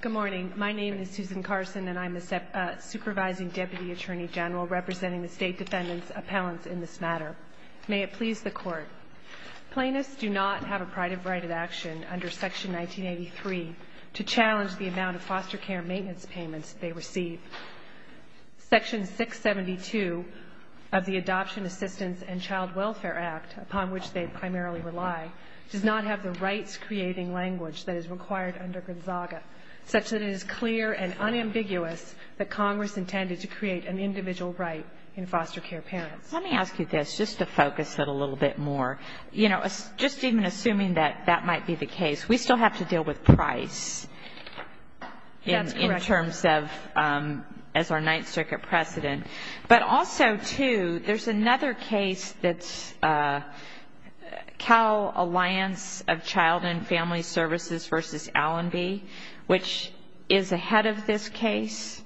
Good morning, my name is Susan Carson and I'm the Supervising Deputy Attorney General representing the State Defendant's Appellants in this matter. May it please the Court, Plaintiffs do not have a right of action under Section 1983 to challenge the amount of foster care maintenance payments they receive. Section 672 of the Adoption Assistance and Child Welfare Act, upon which they primarily rely, does not have the rights-creating language that is required under Gonzaga, such that it is clear and unambiguous that Congress intended to create an individual right in foster care parents. Let me ask you this, just to focus it a little bit more. You know, just even assuming that that might be the case, we still have to deal with price. That's correct. In terms of, as our Ninth Circuit precedent. But also, too, there's another case that's Cal Alliance of Child and Family Services v. Allenby, which is ahead of this case.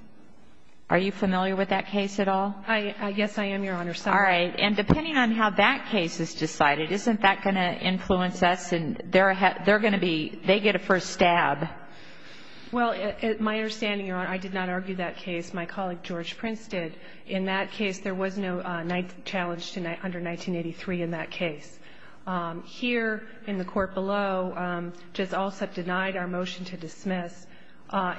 Are you familiar with that case at all? Yes, I am, Your Honor, sorry. All right. And depending on how that case is decided, isn't that going to influence us, and they're going to be, they get a first stab? Well, my understanding, Your Honor, I did not argue that case. My colleague, George Prince, did. In that case, there was no challenge under 1983 in that case. Here, in the court below, Judge Alsup denied our motion to dismiss.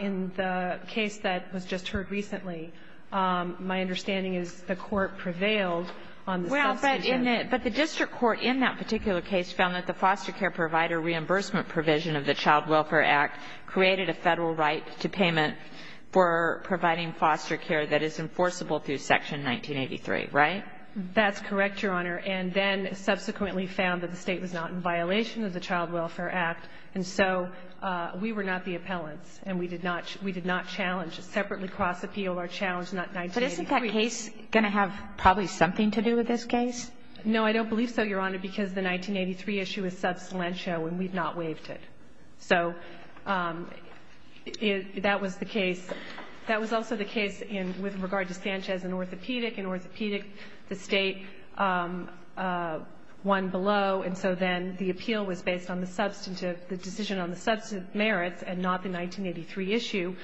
In the case that was just heard recently, my understanding is the court prevailed on the substitution. Well, but the district court in that particular case found that the foster care provider reimbursement provision of the Child Welfare Act created a Federal right to payment for providing foster care that is enforceable through Section 1983, right? That's correct, Your Honor. And then subsequently found that the State was not in violation of the Child Welfare Act. And so we were not the appellants, and we did not challenge, separately cross-appeal our challenge, not 1983. But isn't that case going to have probably something to do with this case? No, I don't believe so, Your Honor, because the 1983 issue is substantial, and we've not waived it. So that was the case. That was also the case with regard to Sanchez and orthopedic. In orthopedic, the State won below, and so then the appeal was based on the substantive, the decision on the substantive merits and not the 1983 issue.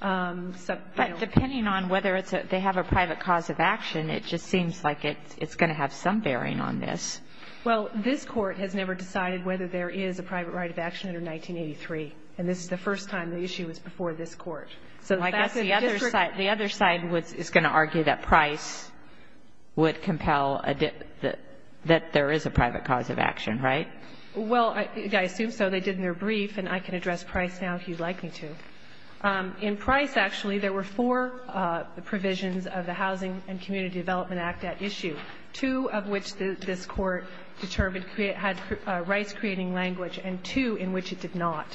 But depending on whether they have a private cause of action, it just seems like it's going to have some bearing on this. Well, this Court has never decided whether there is a private right of action under 1983, and this is the first time the issue was before this Court. So I guess the other side is going to argue that Price would compel that there is a private cause of action, right? Well, I assume so. They did in their brief, and I can address Price now if you'd like me to. In Price, actually, there were four provisions of the Housing and Community Development Act at issue, two of which this Court determined had rights creating language and two in which it did not.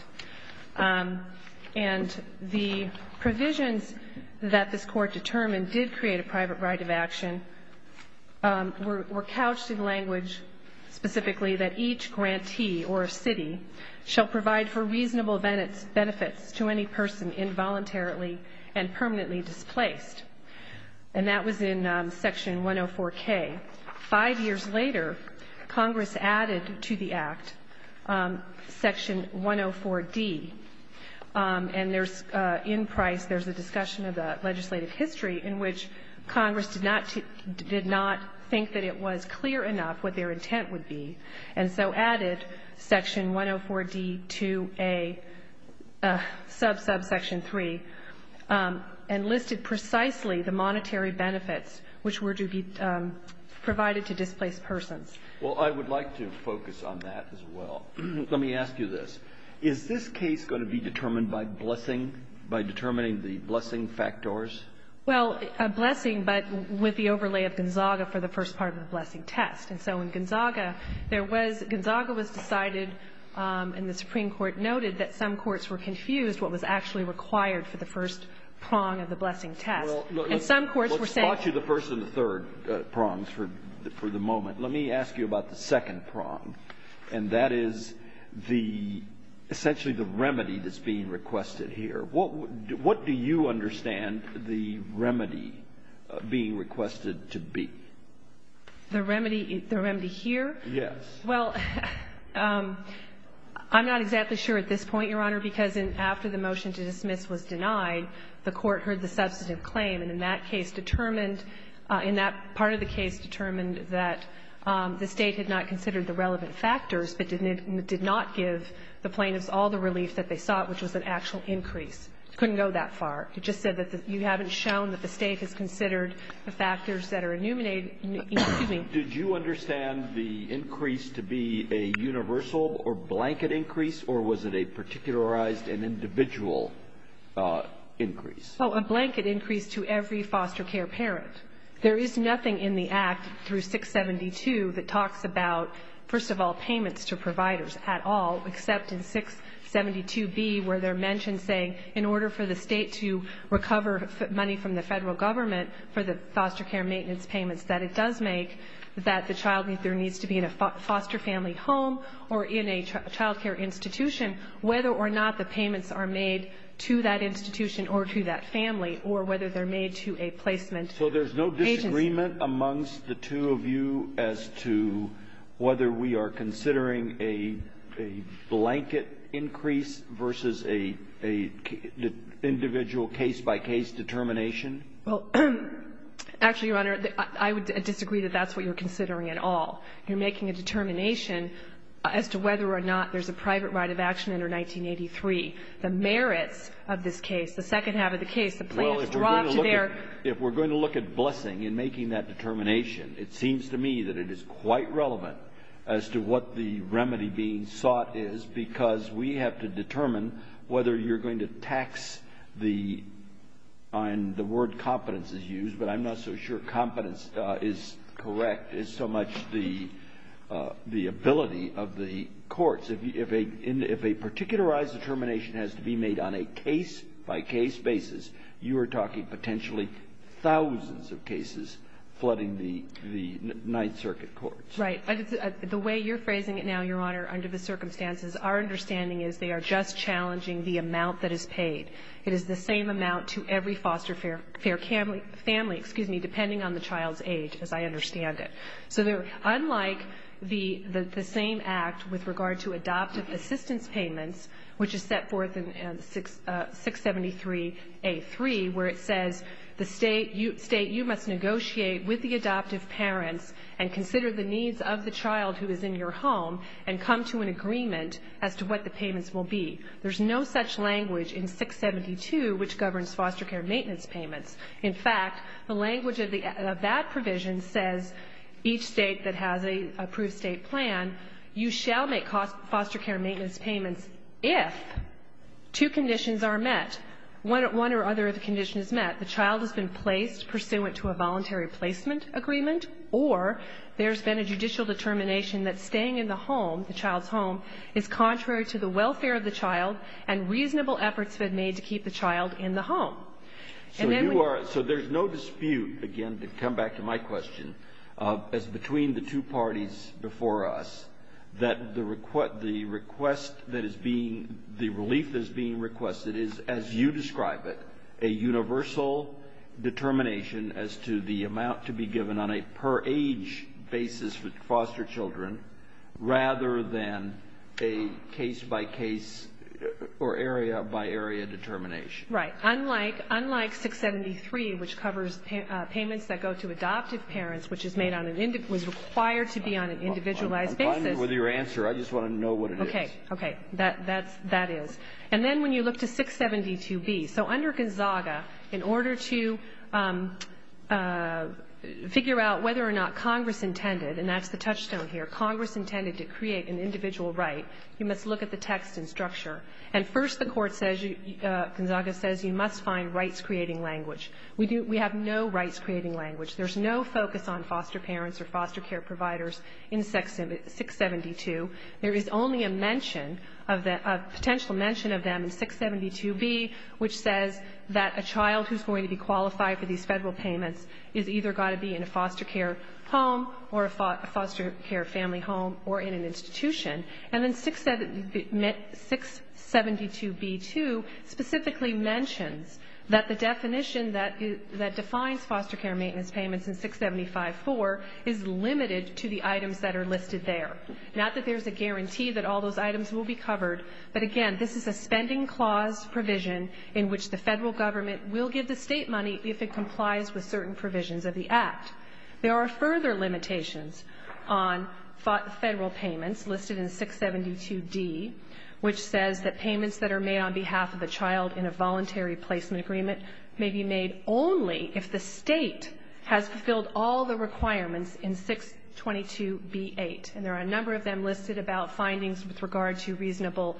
And the provisions that this Court determined did create a private right of action were couched in language specifically that each grantee or city shall provide for reasonable benefits to any person involuntarily and permanently displaced. And that was in Section 104K. Five years later, Congress added to the Act Section 104D, and there's, in Price, there's a discussion of the legislative history in which Congress did not think that it was clear enough what their intent would be, and so added Section 104D to a sub-subsection 3 and listed precisely the monetary benefits which were to be provided to displaced persons. Well, I would like to focus on that as well. Let me ask you this. Is this case going to be determined by blessing, by determining the blessing factors? Well, a blessing, but with the overlay of Gonzaga for the first part of the blessing test. And so in Gonzaga, there was — Gonzaga was decided, and the Supreme Court noted, that some courts were confused what was actually required for the first prong of the blessing test. And some courts were saying — Well, let's spot you the first and the third prongs for the moment. Let me ask you about the second prong, and that is the — essentially the remedy that's being requested here. What do you understand the remedy being requested to be? The remedy here? Yes. Well, I'm not exactly sure at this point, Your Honor, because after the motion to dismiss was denied, the Court heard the substantive claim, and in that case determined — in that part of the case determined that the State had not considered the relevant factors, but did not give the plaintiffs all the relief that they sought, which was an actual increase. It couldn't go that far. It just said that you haven't shown that the State has considered the factors that are enuminated — excuse me. Did you understand the increase to be a universal or blanket increase, or was it a particularized and individual increase? Oh, a blanket increase to every foster care parent. There is nothing in the Act through 672 that talks about, first of all, payments to providers at all, except in 672B where they're mentioned saying in order for the State to recover money from the Federal Government for the foster care maintenance payments that it does make, that the child needs to be in a foster family home or in a child care institution, whether or not the payments are made to that institution or to that family or whether they're made to a placement agency. So there's no disagreement amongst the two of you as to whether we are considering a blanket increase versus an individual case-by-case determination? Well, actually, Your Honor, I would disagree that that's what you're considering at all. You're making a determination as to whether or not there's a private right of action under 1983. The merits of this case, the second half of the case, the plaintiffs draw to their — Well, if we're going to look at blessing in making that determination, it seems to me that it is quite relevant as to what the remedy being sought is because we have to determine whether you're going to tax the — and the word competence is used, but I'm not so sure competence is correct as so much the ability of the courts. If a particularized determination has to be made on a case-by-case basis, you are talking potentially thousands of cases flooding the Ninth Circuit courts. Right. The way you're phrasing it now, Your Honor, under the circumstances, our understanding is they are just challenging the amount that is paid. It is the same amount to every foster family depending on the child's age, as I understand it. So unlike the same act with regard to adoptive assistance payments, which is set forth in 673A3, where it says the state, you must negotiate with the adoptive parents and consider the needs of the child who is in your home and come to an agreement as to what the payments will be. There's no such language in 672, which governs foster care maintenance payments. In fact, the language of that provision says each state that has an approved state plan, you shall make foster care maintenance payments if two conditions are met, one or other of the conditions met, the child has been placed pursuant to a voluntary placement agreement, or there's been a judicial determination that staying in the home, the welfare of the child, and reasonable efforts have been made to keep the child in the home. And then we... So there's no dispute, again, to come back to my question, as between the two parties before us, that the request that is being, the relief that is being requested is, as you describe it, a universal determination as to the amount to be given on a per age basis with foster children, rather than a case-by-case or area-by-area determination. Right. Unlike 673, which covers payments that go to adoptive parents, which is made on an, was required to be on an individualized basis. I'm fine with your answer. I just want to know what it is. Okay. Okay. That is. And then when you look to 672B. So under Gonzaga, in order to figure out whether or not Congress intended, and that's the touchstone here, Congress intended to create an individual right, you must look at the text and structure. And first the court says, Gonzaga says, you must find rights-creating language. We have no rights-creating language. There's no focus on foster parents or foster care providers in 672. There is only a mention of the, a potential mention of them in 672B, which says that a child who's going to be qualified for these federal payments is either got to be in a foster care home or a foster care family home or in an institution. And then 672B.2 specifically mentions that the definition that defines foster care maintenance payments in 675.4 is limited to the items that are listed there. Not that there's a guarantee that all those items will be covered. But again, this is a spending clause provision in which the federal government will give the state money if it complies with certain provisions of the Act. There are further limitations on federal payments listed in 672D, which says that payments that are made on behalf of the child in a voluntary placement agreement may be made only if the state has fulfilled all the requirements in 622B.8. And there are a number of them listed about findings with regard to reasonable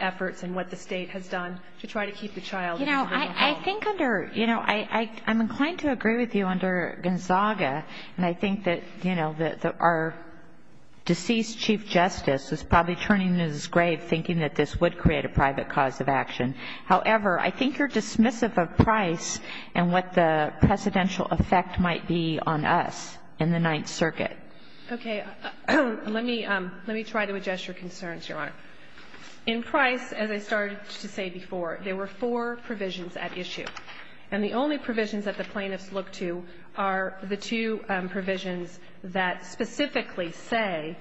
efforts and what the state has done to try to keep the child in a home. You know, I think under, you know, I'm inclined to agree with you under Gonzaga. And I think that, you know, that our deceased Chief Justice is probably turning his grave thinking that this would create a private cause of action. However, I think you're dismissive of price and what the precedential effect might be on us in the Ninth Circuit. Okay. Let me try to address your concerns, Your Honor. In price, as I started to say before, there were four provisions at issue. And the only provisions that the plaintiffs look to are the two provisions that specifically say,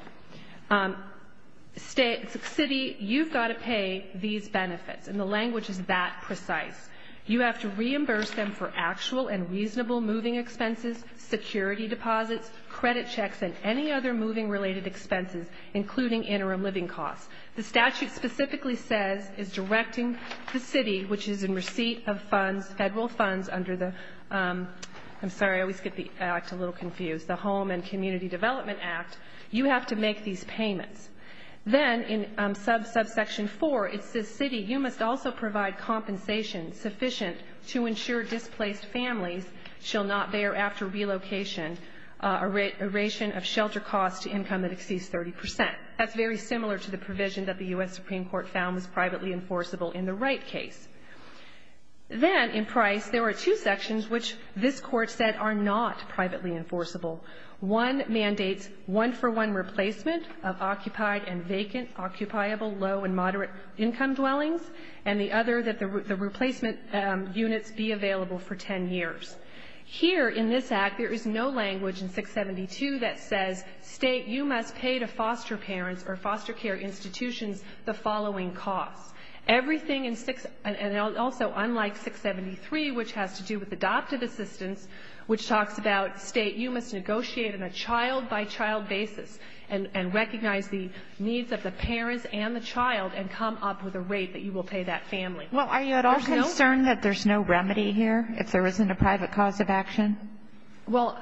city, you've got to pay these benefits. And the language is that precise. You have to reimburse them for actual and reasonable moving expenses, security deposits, credit checks, and any other moving-related expenses, including interim living costs. The statute specifically says, is directing the city, which is in receipt of funds, federal funds under the, I'm sorry, I always get the act a little confused, the Home and Community Development Act, you have to make these payments. Then in subsection 4, it says, city, you must also provide compensation sufficient to ensure displaced families shall not bear, after relocation, a ration of shelter costs to income that exceeds 30 percent. That's very similar to the provision that the U.S. Supreme Court found was privately enforceable in the Wright case. Then in price, there were two sections which this Court said are not privately enforceable. One mandates one-for-one replacement of occupied and vacant, occupiable, low and Here, in this Act, there is no language in 672 that says, state, you must pay to foster parents or foster care institutions the following costs. Everything in 6, and also unlike 673, which has to do with adoptive assistance, which talks about, state, you must negotiate on a child-by-child basis and recognize the needs of the parents and the child and come up with a rate that you will pay that family. Well, are you at all concerned that there's no remedy here, if there isn't a private cause of action? Well,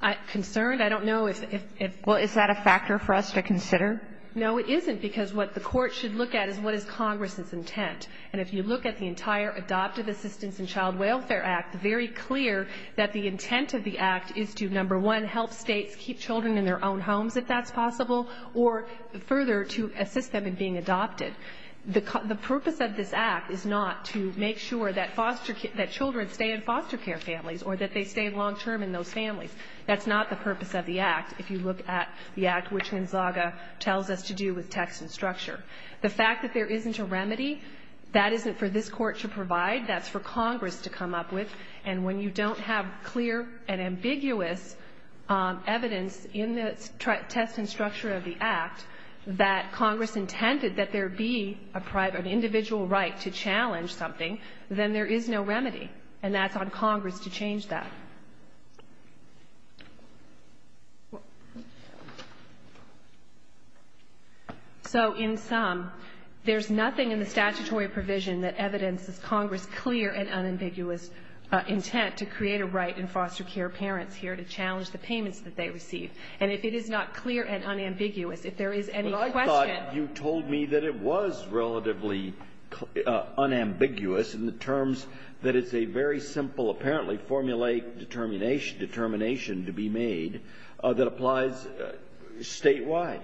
I'm concerned. I don't know if it's Well, is that a factor for us to consider? No, it isn't, because what the Court should look at is what is Congress's intent. And if you look at the entire Adoptive Assistance and Child Welfare Act, very clear that the intent of the Act is to, number one, help states keep children in their own homes, if that's possible, or further, to assist them in being adopted. The purpose of this Act is not to make sure that children stay in foster care families or that they stay long-term in those families. That's not the purpose of the Act, if you look at the Act, which Gonzaga tells us to do with text and structure. The fact that there isn't a remedy, that isn't for this Court to provide. That's for Congress to come up with. And when you don't have clear and ambiguous evidence in the text and structure of that Congress intended that there be an individual right to challenge something, then there is no remedy. And that's on Congress to change that. So in sum, there's nothing in the statutory provision that evidences Congress's clear and unambiguous intent to create a right in foster care parents here to challenge the payments that they receive. And if it is not clear and unambiguous, if there is any question — But I thought you told me that it was relatively unambiguous in the terms that it's a very simple, apparently, formulaic determination to be made that applies statewide.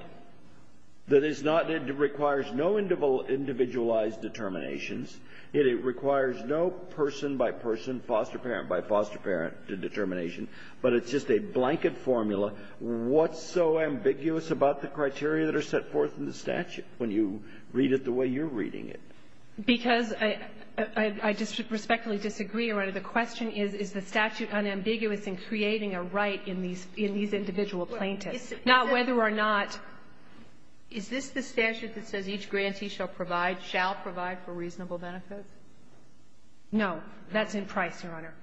That it's not — it requires no individualized determinations. It requires no person-by-person, foster parent-by-foster parent determination. But it's just a blanket formula. What's so ambiguous about the criteria that are set forth in the statute when you read it the way you're reading it? Because I respectfully disagree, Your Honor. The question is, is the statute unambiguous in creating a right in these individual plaintiffs? Not whether or not — Is this the statute that says each grantee shall provide — shall provide for reasonable benefits? That's in Price, Your Honor.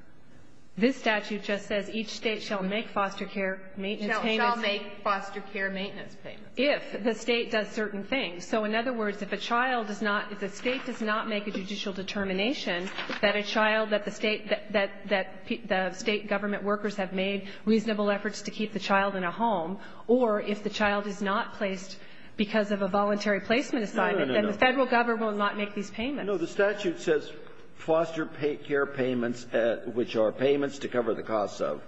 This statute just says each State shall make foster care maintenance payments. Shall make foster care maintenance payments. If the State does certain things. So in other words, if a child does not — if the State does not make a judicial determination that a child that the State — that the State government workers have made reasonable efforts to keep the child in a home, or if the child is not placed because of a voluntary placement assignment, then the Federal government will not make these payments. No, the statute says foster care payments, which are payments to cover the costs of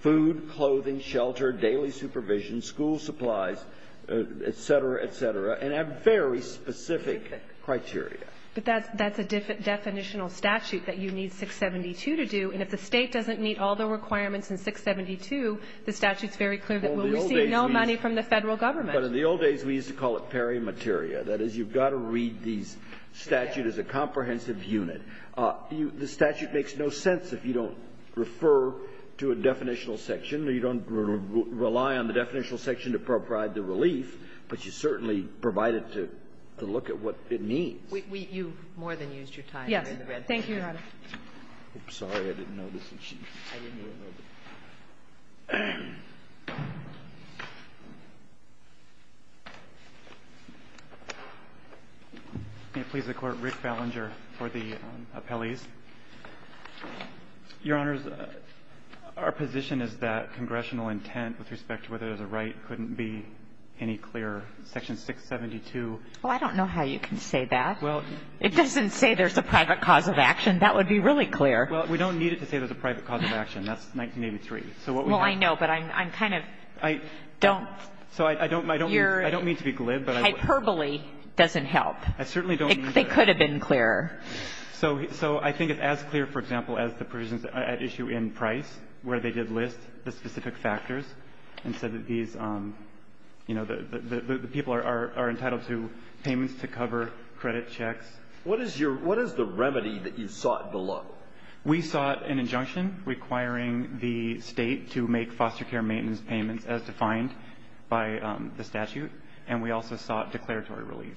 food, clothing, shelter, daily supervision, school supplies, et cetera, et cetera, and have very specific criteria. But that's a definitional statute that you need 672 to do, and if the State doesn't meet all the requirements in 672, the statute's very clear that we'll receive no money from the Federal government. But in the old days, we used to call it peri materia. That is, you've got to read these statutes as a comprehensive unit. The statute makes no sense if you don't refer to a definitional section or you don't rely on the definitional section to provide the relief, but you certainly provide it to look at what it means. You've more than used your time. Thank you, Your Honor. I'm sorry. I didn't notice that she was having me over. May it please the Court. Rick Ballinger for the appellees. Your Honors, our position is that congressional intent with respect to whether there's a right couldn't be any clearer. Section 672. Well, I don't know how you can say that. Well, it doesn't say there's a private cause of action. That would be really clear. Well, we don't need it to say there's a private cause of action. That's 1983. Well, I know, but I'm kind of don't. So I don't mean to be glib. Hyperbole doesn't help. I certainly don't. It could have been clearer. So I think it's as clear, for example, as the provisions at issue in Price where they did list the specific factors and said that these, you know, the people are entitled to payments to cover credit checks. What is the remedy that you sought below? We sought an injunction requiring the State to make foster care maintenance payments as defined by the statute, and we also sought declaratory relief.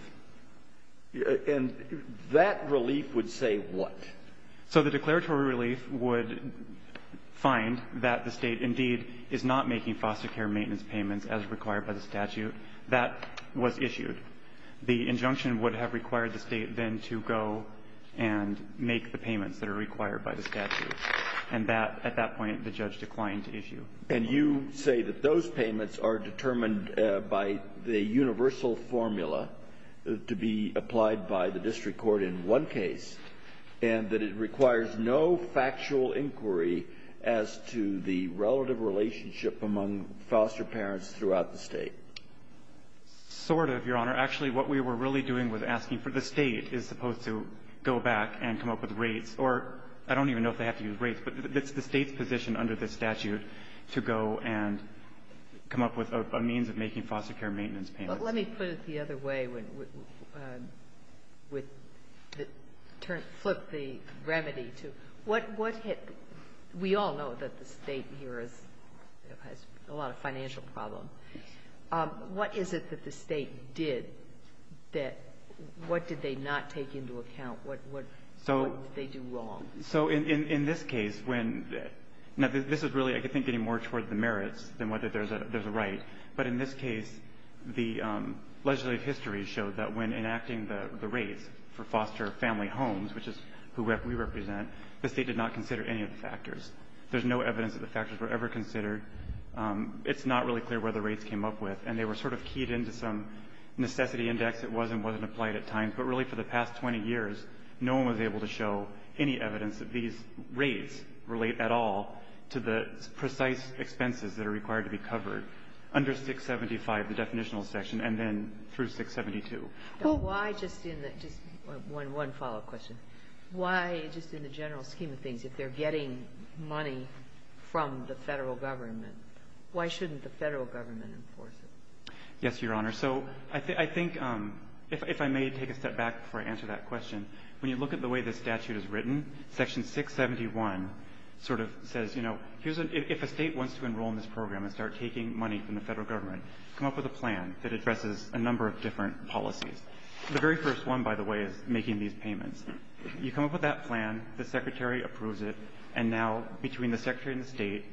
And that relief would say what? So the declaratory relief would find that the State indeed is not making foster care maintenance payments as required by the statute that was issued. The injunction would have required the State then to go and make the payments that are required by the statute. And at that point, the judge declined to issue. And you say that those payments are determined by the universal formula to be applied by the district court in one case and that it requires no factual inquiry as to the relative relationship among foster parents throughout the State. Sort of, Your Honor. Actually, what we were really doing with asking for the State is supposed to go back and come up with rates, or I don't even know if they have to use rates, but it's the State's position under this statute to go and come up with a means of making foster care maintenance payments. But let me put it the other way, with the turn to flip the remedy to what hit the We all know that the State here has a lot of financial problem. What is it that the State did that what did they not take into account? What did they do wrong? So in this case, when the – now, this is really, I think, getting more toward the merits than whether there's a right. But in this case, the legislative history showed that when enacting the rates for foster family homes, which is who we represent, the State did not consider any of the factors. There's no evidence that the factors were ever considered. It's not really clear where the rates came up with, and they were sort of keyed into some necessity index that was and wasn't applied at times. But really, for the past 20 years, no one was able to show any evidence that these rates relate at all to the precise expenses that are required to be covered under 675, the definitional section, and then through 672. Now, why just in the – just one follow-up question. Why just in the general scheme of things, if they're getting money from the Federal Government, why shouldn't the Federal Government enforce it? Yes, Your Honor. So I think – if I may take a step back before I answer that question. When you look at the way this statute is written, Section 671 sort of says, you know, if a State wants to enroll in this program and start taking money from the Federal Government, come up with a plan that addresses a number of different policies. The very first one, by the way, is making these payments. You come up with that plan, the Secretary approves it, and now between the Secretary and the State,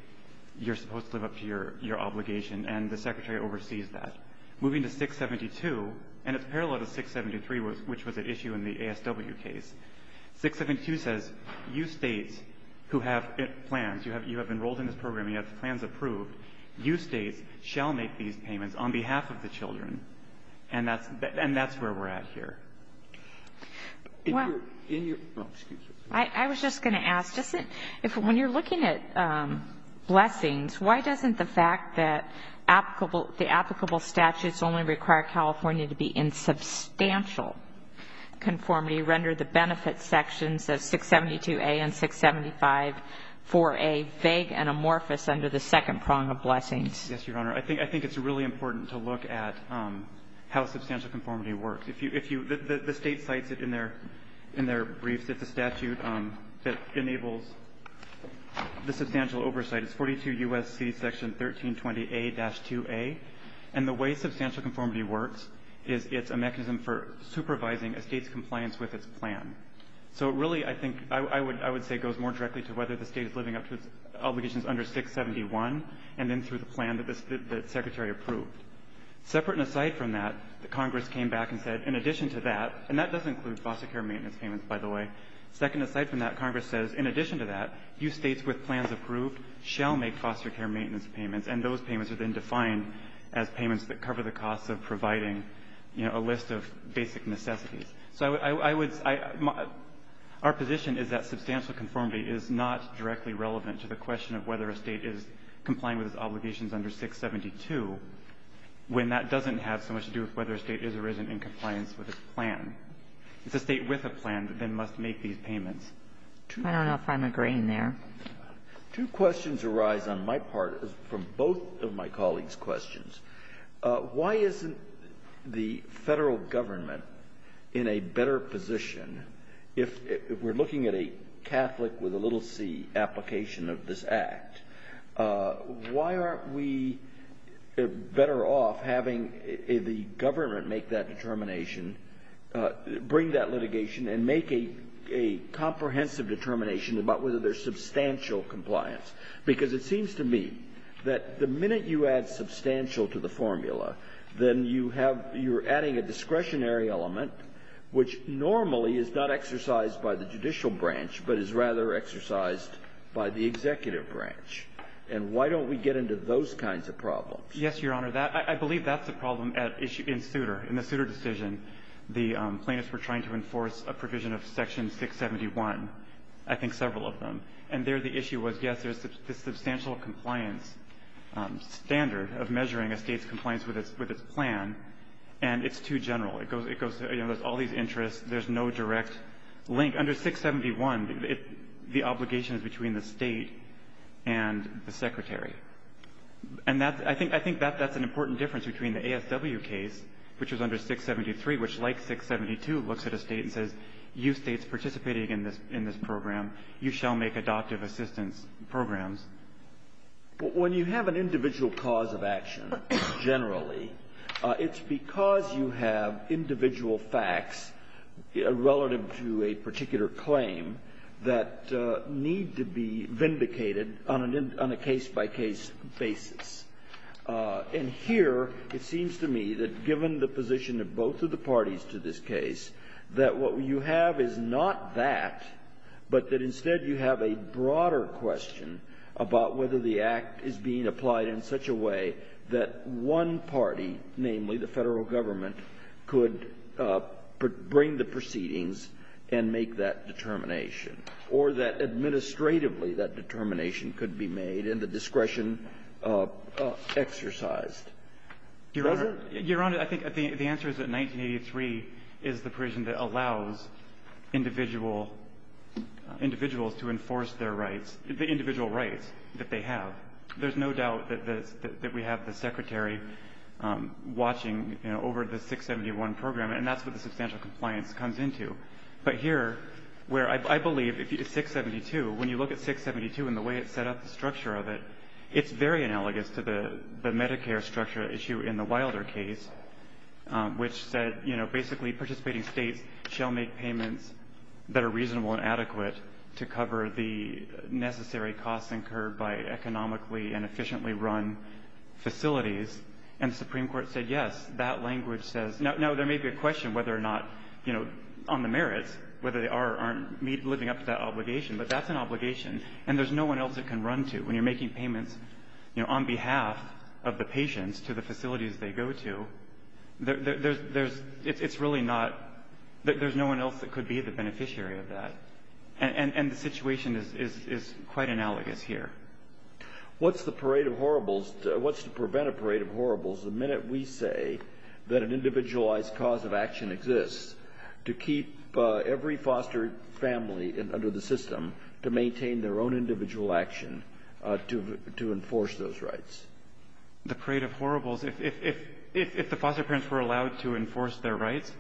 you're supposed to live up to your obligation, and the Secretary oversees that. Moving to 672 – and it's parallel to 673, which was at issue in the ASW case. 672 says, you States who have plans, you have enrolled in this program, you have plans approved, you States shall make these payments on behalf of the children. And that's where we're at here. If you're in your – oh, excuse me. I was just going to ask, when you're looking at blessings, why doesn't the fact that the applicable statutes only require California to be in substantial conformity render the benefit sections of 672A and 6754A vague and amorphous under the second prong of blessings? Yes, Your Honor. I think it's really important to look at how substantial conformity works. If you – the State cites it in their briefs. It's a statute that enables the substantial oversight. It's 42 U.S.C. section 1320A-2A. And the way substantial conformity works is it's a mechanism for supervising a State's compliance with its plan. So it really, I think – I would say goes more directly to whether the State is living up to its obligations under 671 and then through the plan that the Secretary approved. Separate and aside from that, the Congress came back and said, in addition to that – and that does include foster care maintenance payments, by the way – second, aside from that, Congress says, in addition to that, you States with plans approved shall make foster care maintenance payments. So I would – our position is that substantial conformity is not directly relevant to the question of whether a State is complying with its obligations under 672 when that doesn't have so much to do with whether a State is or isn't in compliance with its plan. It's a State with a plan that then must make these payments. I don't know if I'm agreeing there. Why isn't the federal government in a better position – if we're looking at a Catholic with a little c application of this act, why aren't we better off having the government make that determination, bring that litigation and make a comprehensive determination about whether there's substantial compliance? Because it seems to me that the minute you add substantial to the formula, then you have – you're adding a discretionary element, which normally is not exercised by the judicial branch, but is rather exercised by the executive branch. And why don't we get into those kinds of problems? Yes, Your Honor. That – I believe that's a problem at – in Souter. In the Souter decision, the plaintiffs were trying to enforce a provision of Section 671, I think several of them. And there the issue was, yes, there's the substantial compliance standard of measuring a State's compliance with its plan, and it's too general. It goes – you know, there's all these interests. There's no direct link. Under 671, the obligation is between the State and the Secretary. And that – I think that's an important difference between the ASW case, which was under 673, which, like 672, looks at a State and says, you States participating in this program, you shall make adoptive assistance programs. But when you have an individual cause of action, generally, it's because you have individual facts relative to a particular claim that need to be vindicated on an – on a case-by-case basis. And here it seems to me that given the position of both of the parties to this case, that what you have is not that, but that instead you have a broader question about whether the Act is being applied in such a way that one party, namely the Federal Government, could bring the proceedings and make that determination, or that administratively that determination could be made and the discretion exercised. Does it? Your Honor, I think the answer is that 1983 is the provision that allows individual – individuals to enforce their rights, the individual rights that they have. There's no doubt that we have the Secretary watching over the 671 program, and that's what the substantial compliance comes into. But here, where I believe if you – 672, when you look at 672 and the way it set up the structure of it, it's very analogous to the Medicare structure issue in the Wilder case, which said, you know, basically, participating states shall make payments that are reasonable and adequate to cover the necessary costs incurred by economically and efficiently run facilities. And the Supreme Court said, yes, that language says – now, there may be a question whether or not, you know, on the merits, whether they are or aren't living up to that When you're making payments, you know, on behalf of the patients to the facilities they go to, there's – it's really not – there's no one else that could be the beneficiary of that. And the situation is quite analogous here. What's the parade of horribles – what's to prevent a parade of horribles? The minute we say that an individualized cause of action exists to keep every foster family under the system to maintain their own individual action to enforce those rights. The parade of horribles – if the foster parents were allowed to enforce their rights?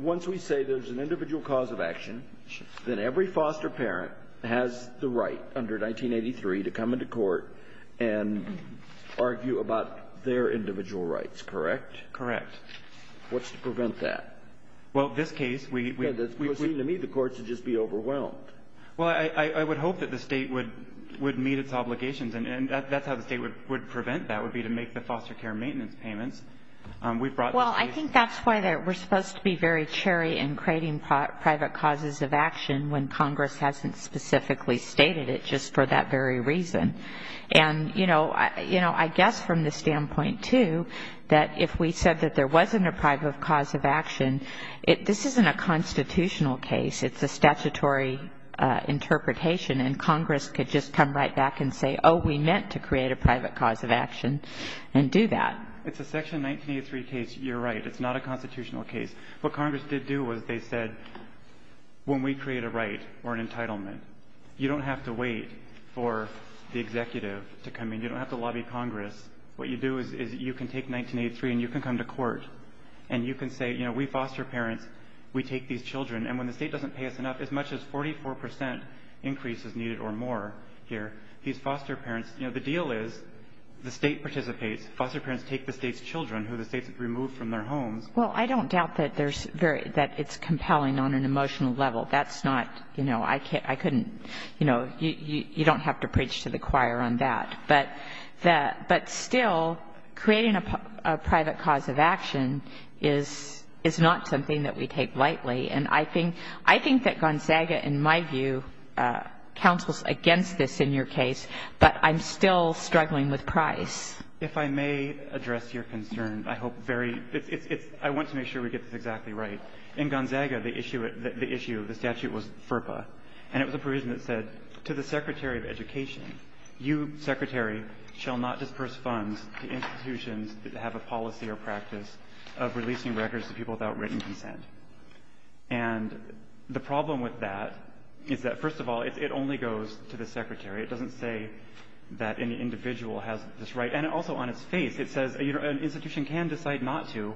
Once we say there's an individual cause of action, then every foster parent has the right under 1983 to come into court and argue about their individual rights, correct? Correct. What's to prevent that? Well, in this case, we – Yeah, that's – we've agreed to meet the courts and just be overwhelmed. Well, I would hope that the State would meet its obligations, and that's how the State would prevent that, would be to make the foster care maintenance payments. We've brought – Well, I think that's why we're supposed to be very cherry in creating private causes of action when Congress hasn't specifically stated it just for that very reason. And, you know, I guess from the standpoint, too, that if we said that there wasn't a private cause of action, this isn't a constitutional case. It's a statutory interpretation, and Congress could just come right back and say, oh, we meant to create a private cause of action and do that. It's a Section 1983 case. You're right. It's not a constitutional case. What Congress did do was they said, when we create a right or an entitlement, you don't have to wait for the executive to come in. You don't have to lobby Congress. What you do is you can take 1983 and you can come to court and you can say, you know, we foster parents, we take these children. And when the State doesn't pay us enough, as much as 44 percent increase is needed or more here, these foster parents – you know, the deal is the State participates. Foster parents take the State's children who the State's removed from their homes. Well, I don't doubt that there's very – that it's compelling on an emotional level. That's not – you know, I couldn't – you know, you don't have to preach to the choir on that. But still, creating a private cause of action is not something that we take lightly. And I think that Gonzaga, in my view, counsels against this in your case, but I'm still struggling with Price. If I may address your concern, I hope very – I want to make sure we get this exactly right. In Gonzaga, the issue of the statute was FERPA, and it was a provision that said, to the Secretary of Education, you, Secretary, shall not disperse funds to institutions that have a policy or practice of releasing records to people without written consent. And the problem with that is that, first of all, it only goes to the Secretary. It doesn't say that any individual has this right. And also on its face, it says an institution can decide not to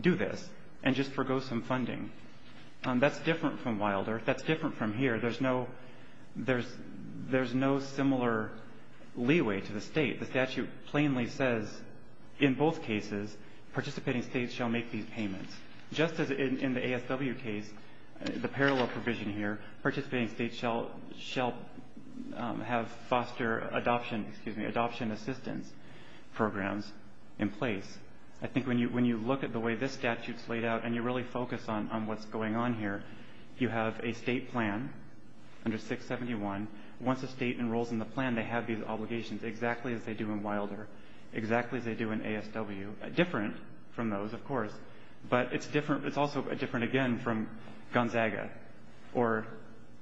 do this and just forego some funding. That's different from Wilder. That's different from here. There's no – there's no similar leeway to the state. The statute plainly says, in both cases, participating states shall make these payments. Just as in the ASW case, the parallel provision here, participating states shall have foster adoption – excuse me – adoption assistance programs in place. I think when you look at the way this statute's laid out and you really focus on what's going on here, you have a state plan under 671. Once a state enrolls in the plan, they have these obligations, exactly as they do in Wilder, exactly as they do in ASW – different from those, of course. But it's different – it's also different, again, from Gonzaga. Or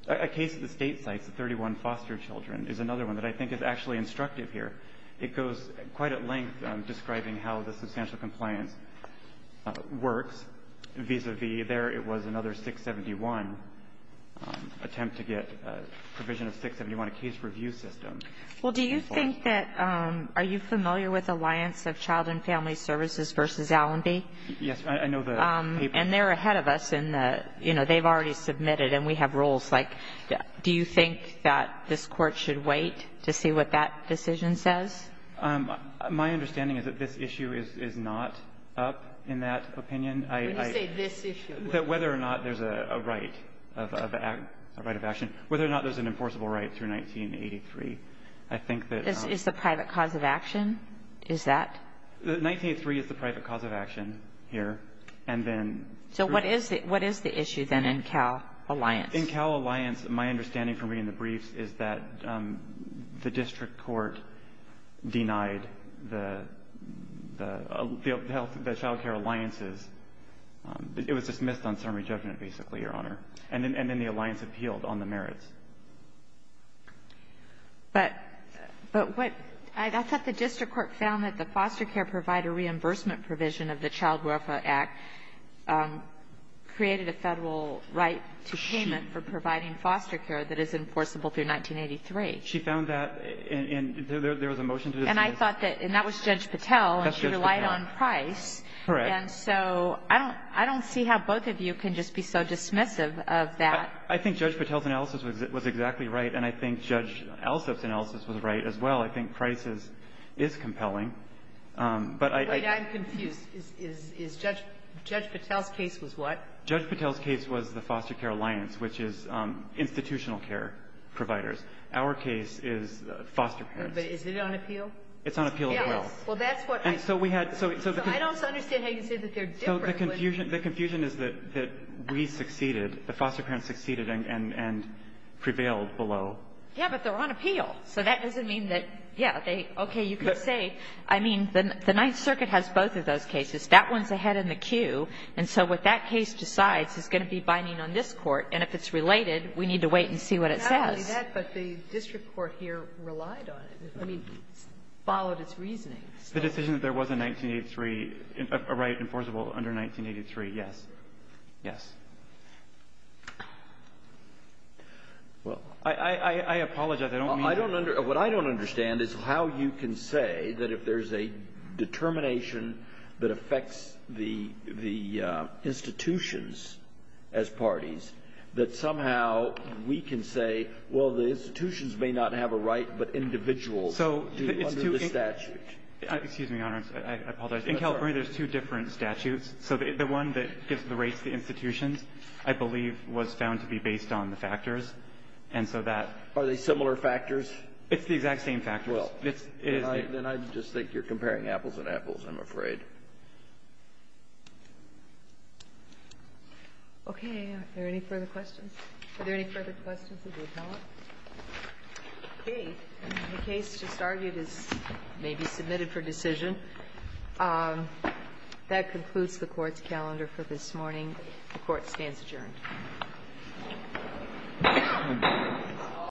a case at the state sites, the 31 foster children, is another one that I think is actually instructive here. It goes quite at length describing how the substantial compliance works. Vis-a-vis there, it was another 671 attempt to get a provision of 671, a case review system. Well, do you think that – are you familiar with Alliance of Child and Family Services v. Allenby? Yes. I know the paper. And they're ahead of us in the – you know, they've already submitted, and we have rules. Like, do you think that this Court should wait to see what that decision says? My understanding is that this issue is not up in that opinion. When you say this issue. That whether or not there's a right of action – whether or not there's an enforceable right through 1983. I think that – Is the private cause of action? Is that – 1983 is the private cause of action here. And then – So what is the issue, then, in Cal Alliance? In Cal Alliance, my understanding from reading the briefs is that the district court denied the child care alliances. It was dismissed on summary judgment, basically, Your Honor. And then the alliance appealed on the merits. But what – I thought the district court found that the foster care provider reimbursement provision of the Child Welfare Act created a Federal right to payment. For providing foster care that is enforceable through 1983. She found that in – there was a motion to dismiss. And I thought that – and that was Judge Patel. That's Judge Patel. And she relied on Price. Correct. And so I don't – I don't see how both of you can just be so dismissive of that. I think Judge Patel's analysis was exactly right. And I think Judge Alsop's analysis was right as well. I think Price's is compelling. But I – Wait. I'm confused. Is Judge – Judge Patel's case was what? Judge Patel's case was the foster care alliance, which is institutional care providers. Our case is foster parents. But is it on appeal? It's on appeal as well. Yes. Well, that's what I – And so we had – so the – So I don't understand how you can say that they're different. So the confusion – the confusion is that we succeeded, the foster parents succeeded, and prevailed below. Yes, but they're on appeal. So that doesn't mean that – yes, they – okay, you could say – I mean, the Ninth Circuit has both of those cases. That one's ahead in the queue. And so what that case decides is going to be binding on this Court. And if it's related, we need to wait and see what it says. But the district court here relied on it. I mean, it followed its reasoning. The decision that there was a 1983 – a right enforceable under 1983, yes. Yes. Well, I apologize. I don't mean to – What I don't understand is how you can say that if there's a determination that affects the institutions as parties, that somehow we can say, well, the institutions may not have a right, but individuals do under the statute. Excuse me, Your Honor. I apologize. In California, there's two different statutes. So the one that gives the rates to the institutions, I believe, was found to be based on the factors. And so that – Are they similar factors? It's the exact same factors. Well, then I just think you're comparing apples and apples, I'm afraid. Okay. Are there any further questions? Are there any further questions of the appellant? Okay. The case just argued is maybe submitted for decision. That concludes the Court's calendar for this morning. The Court stands adjourned. Thank you.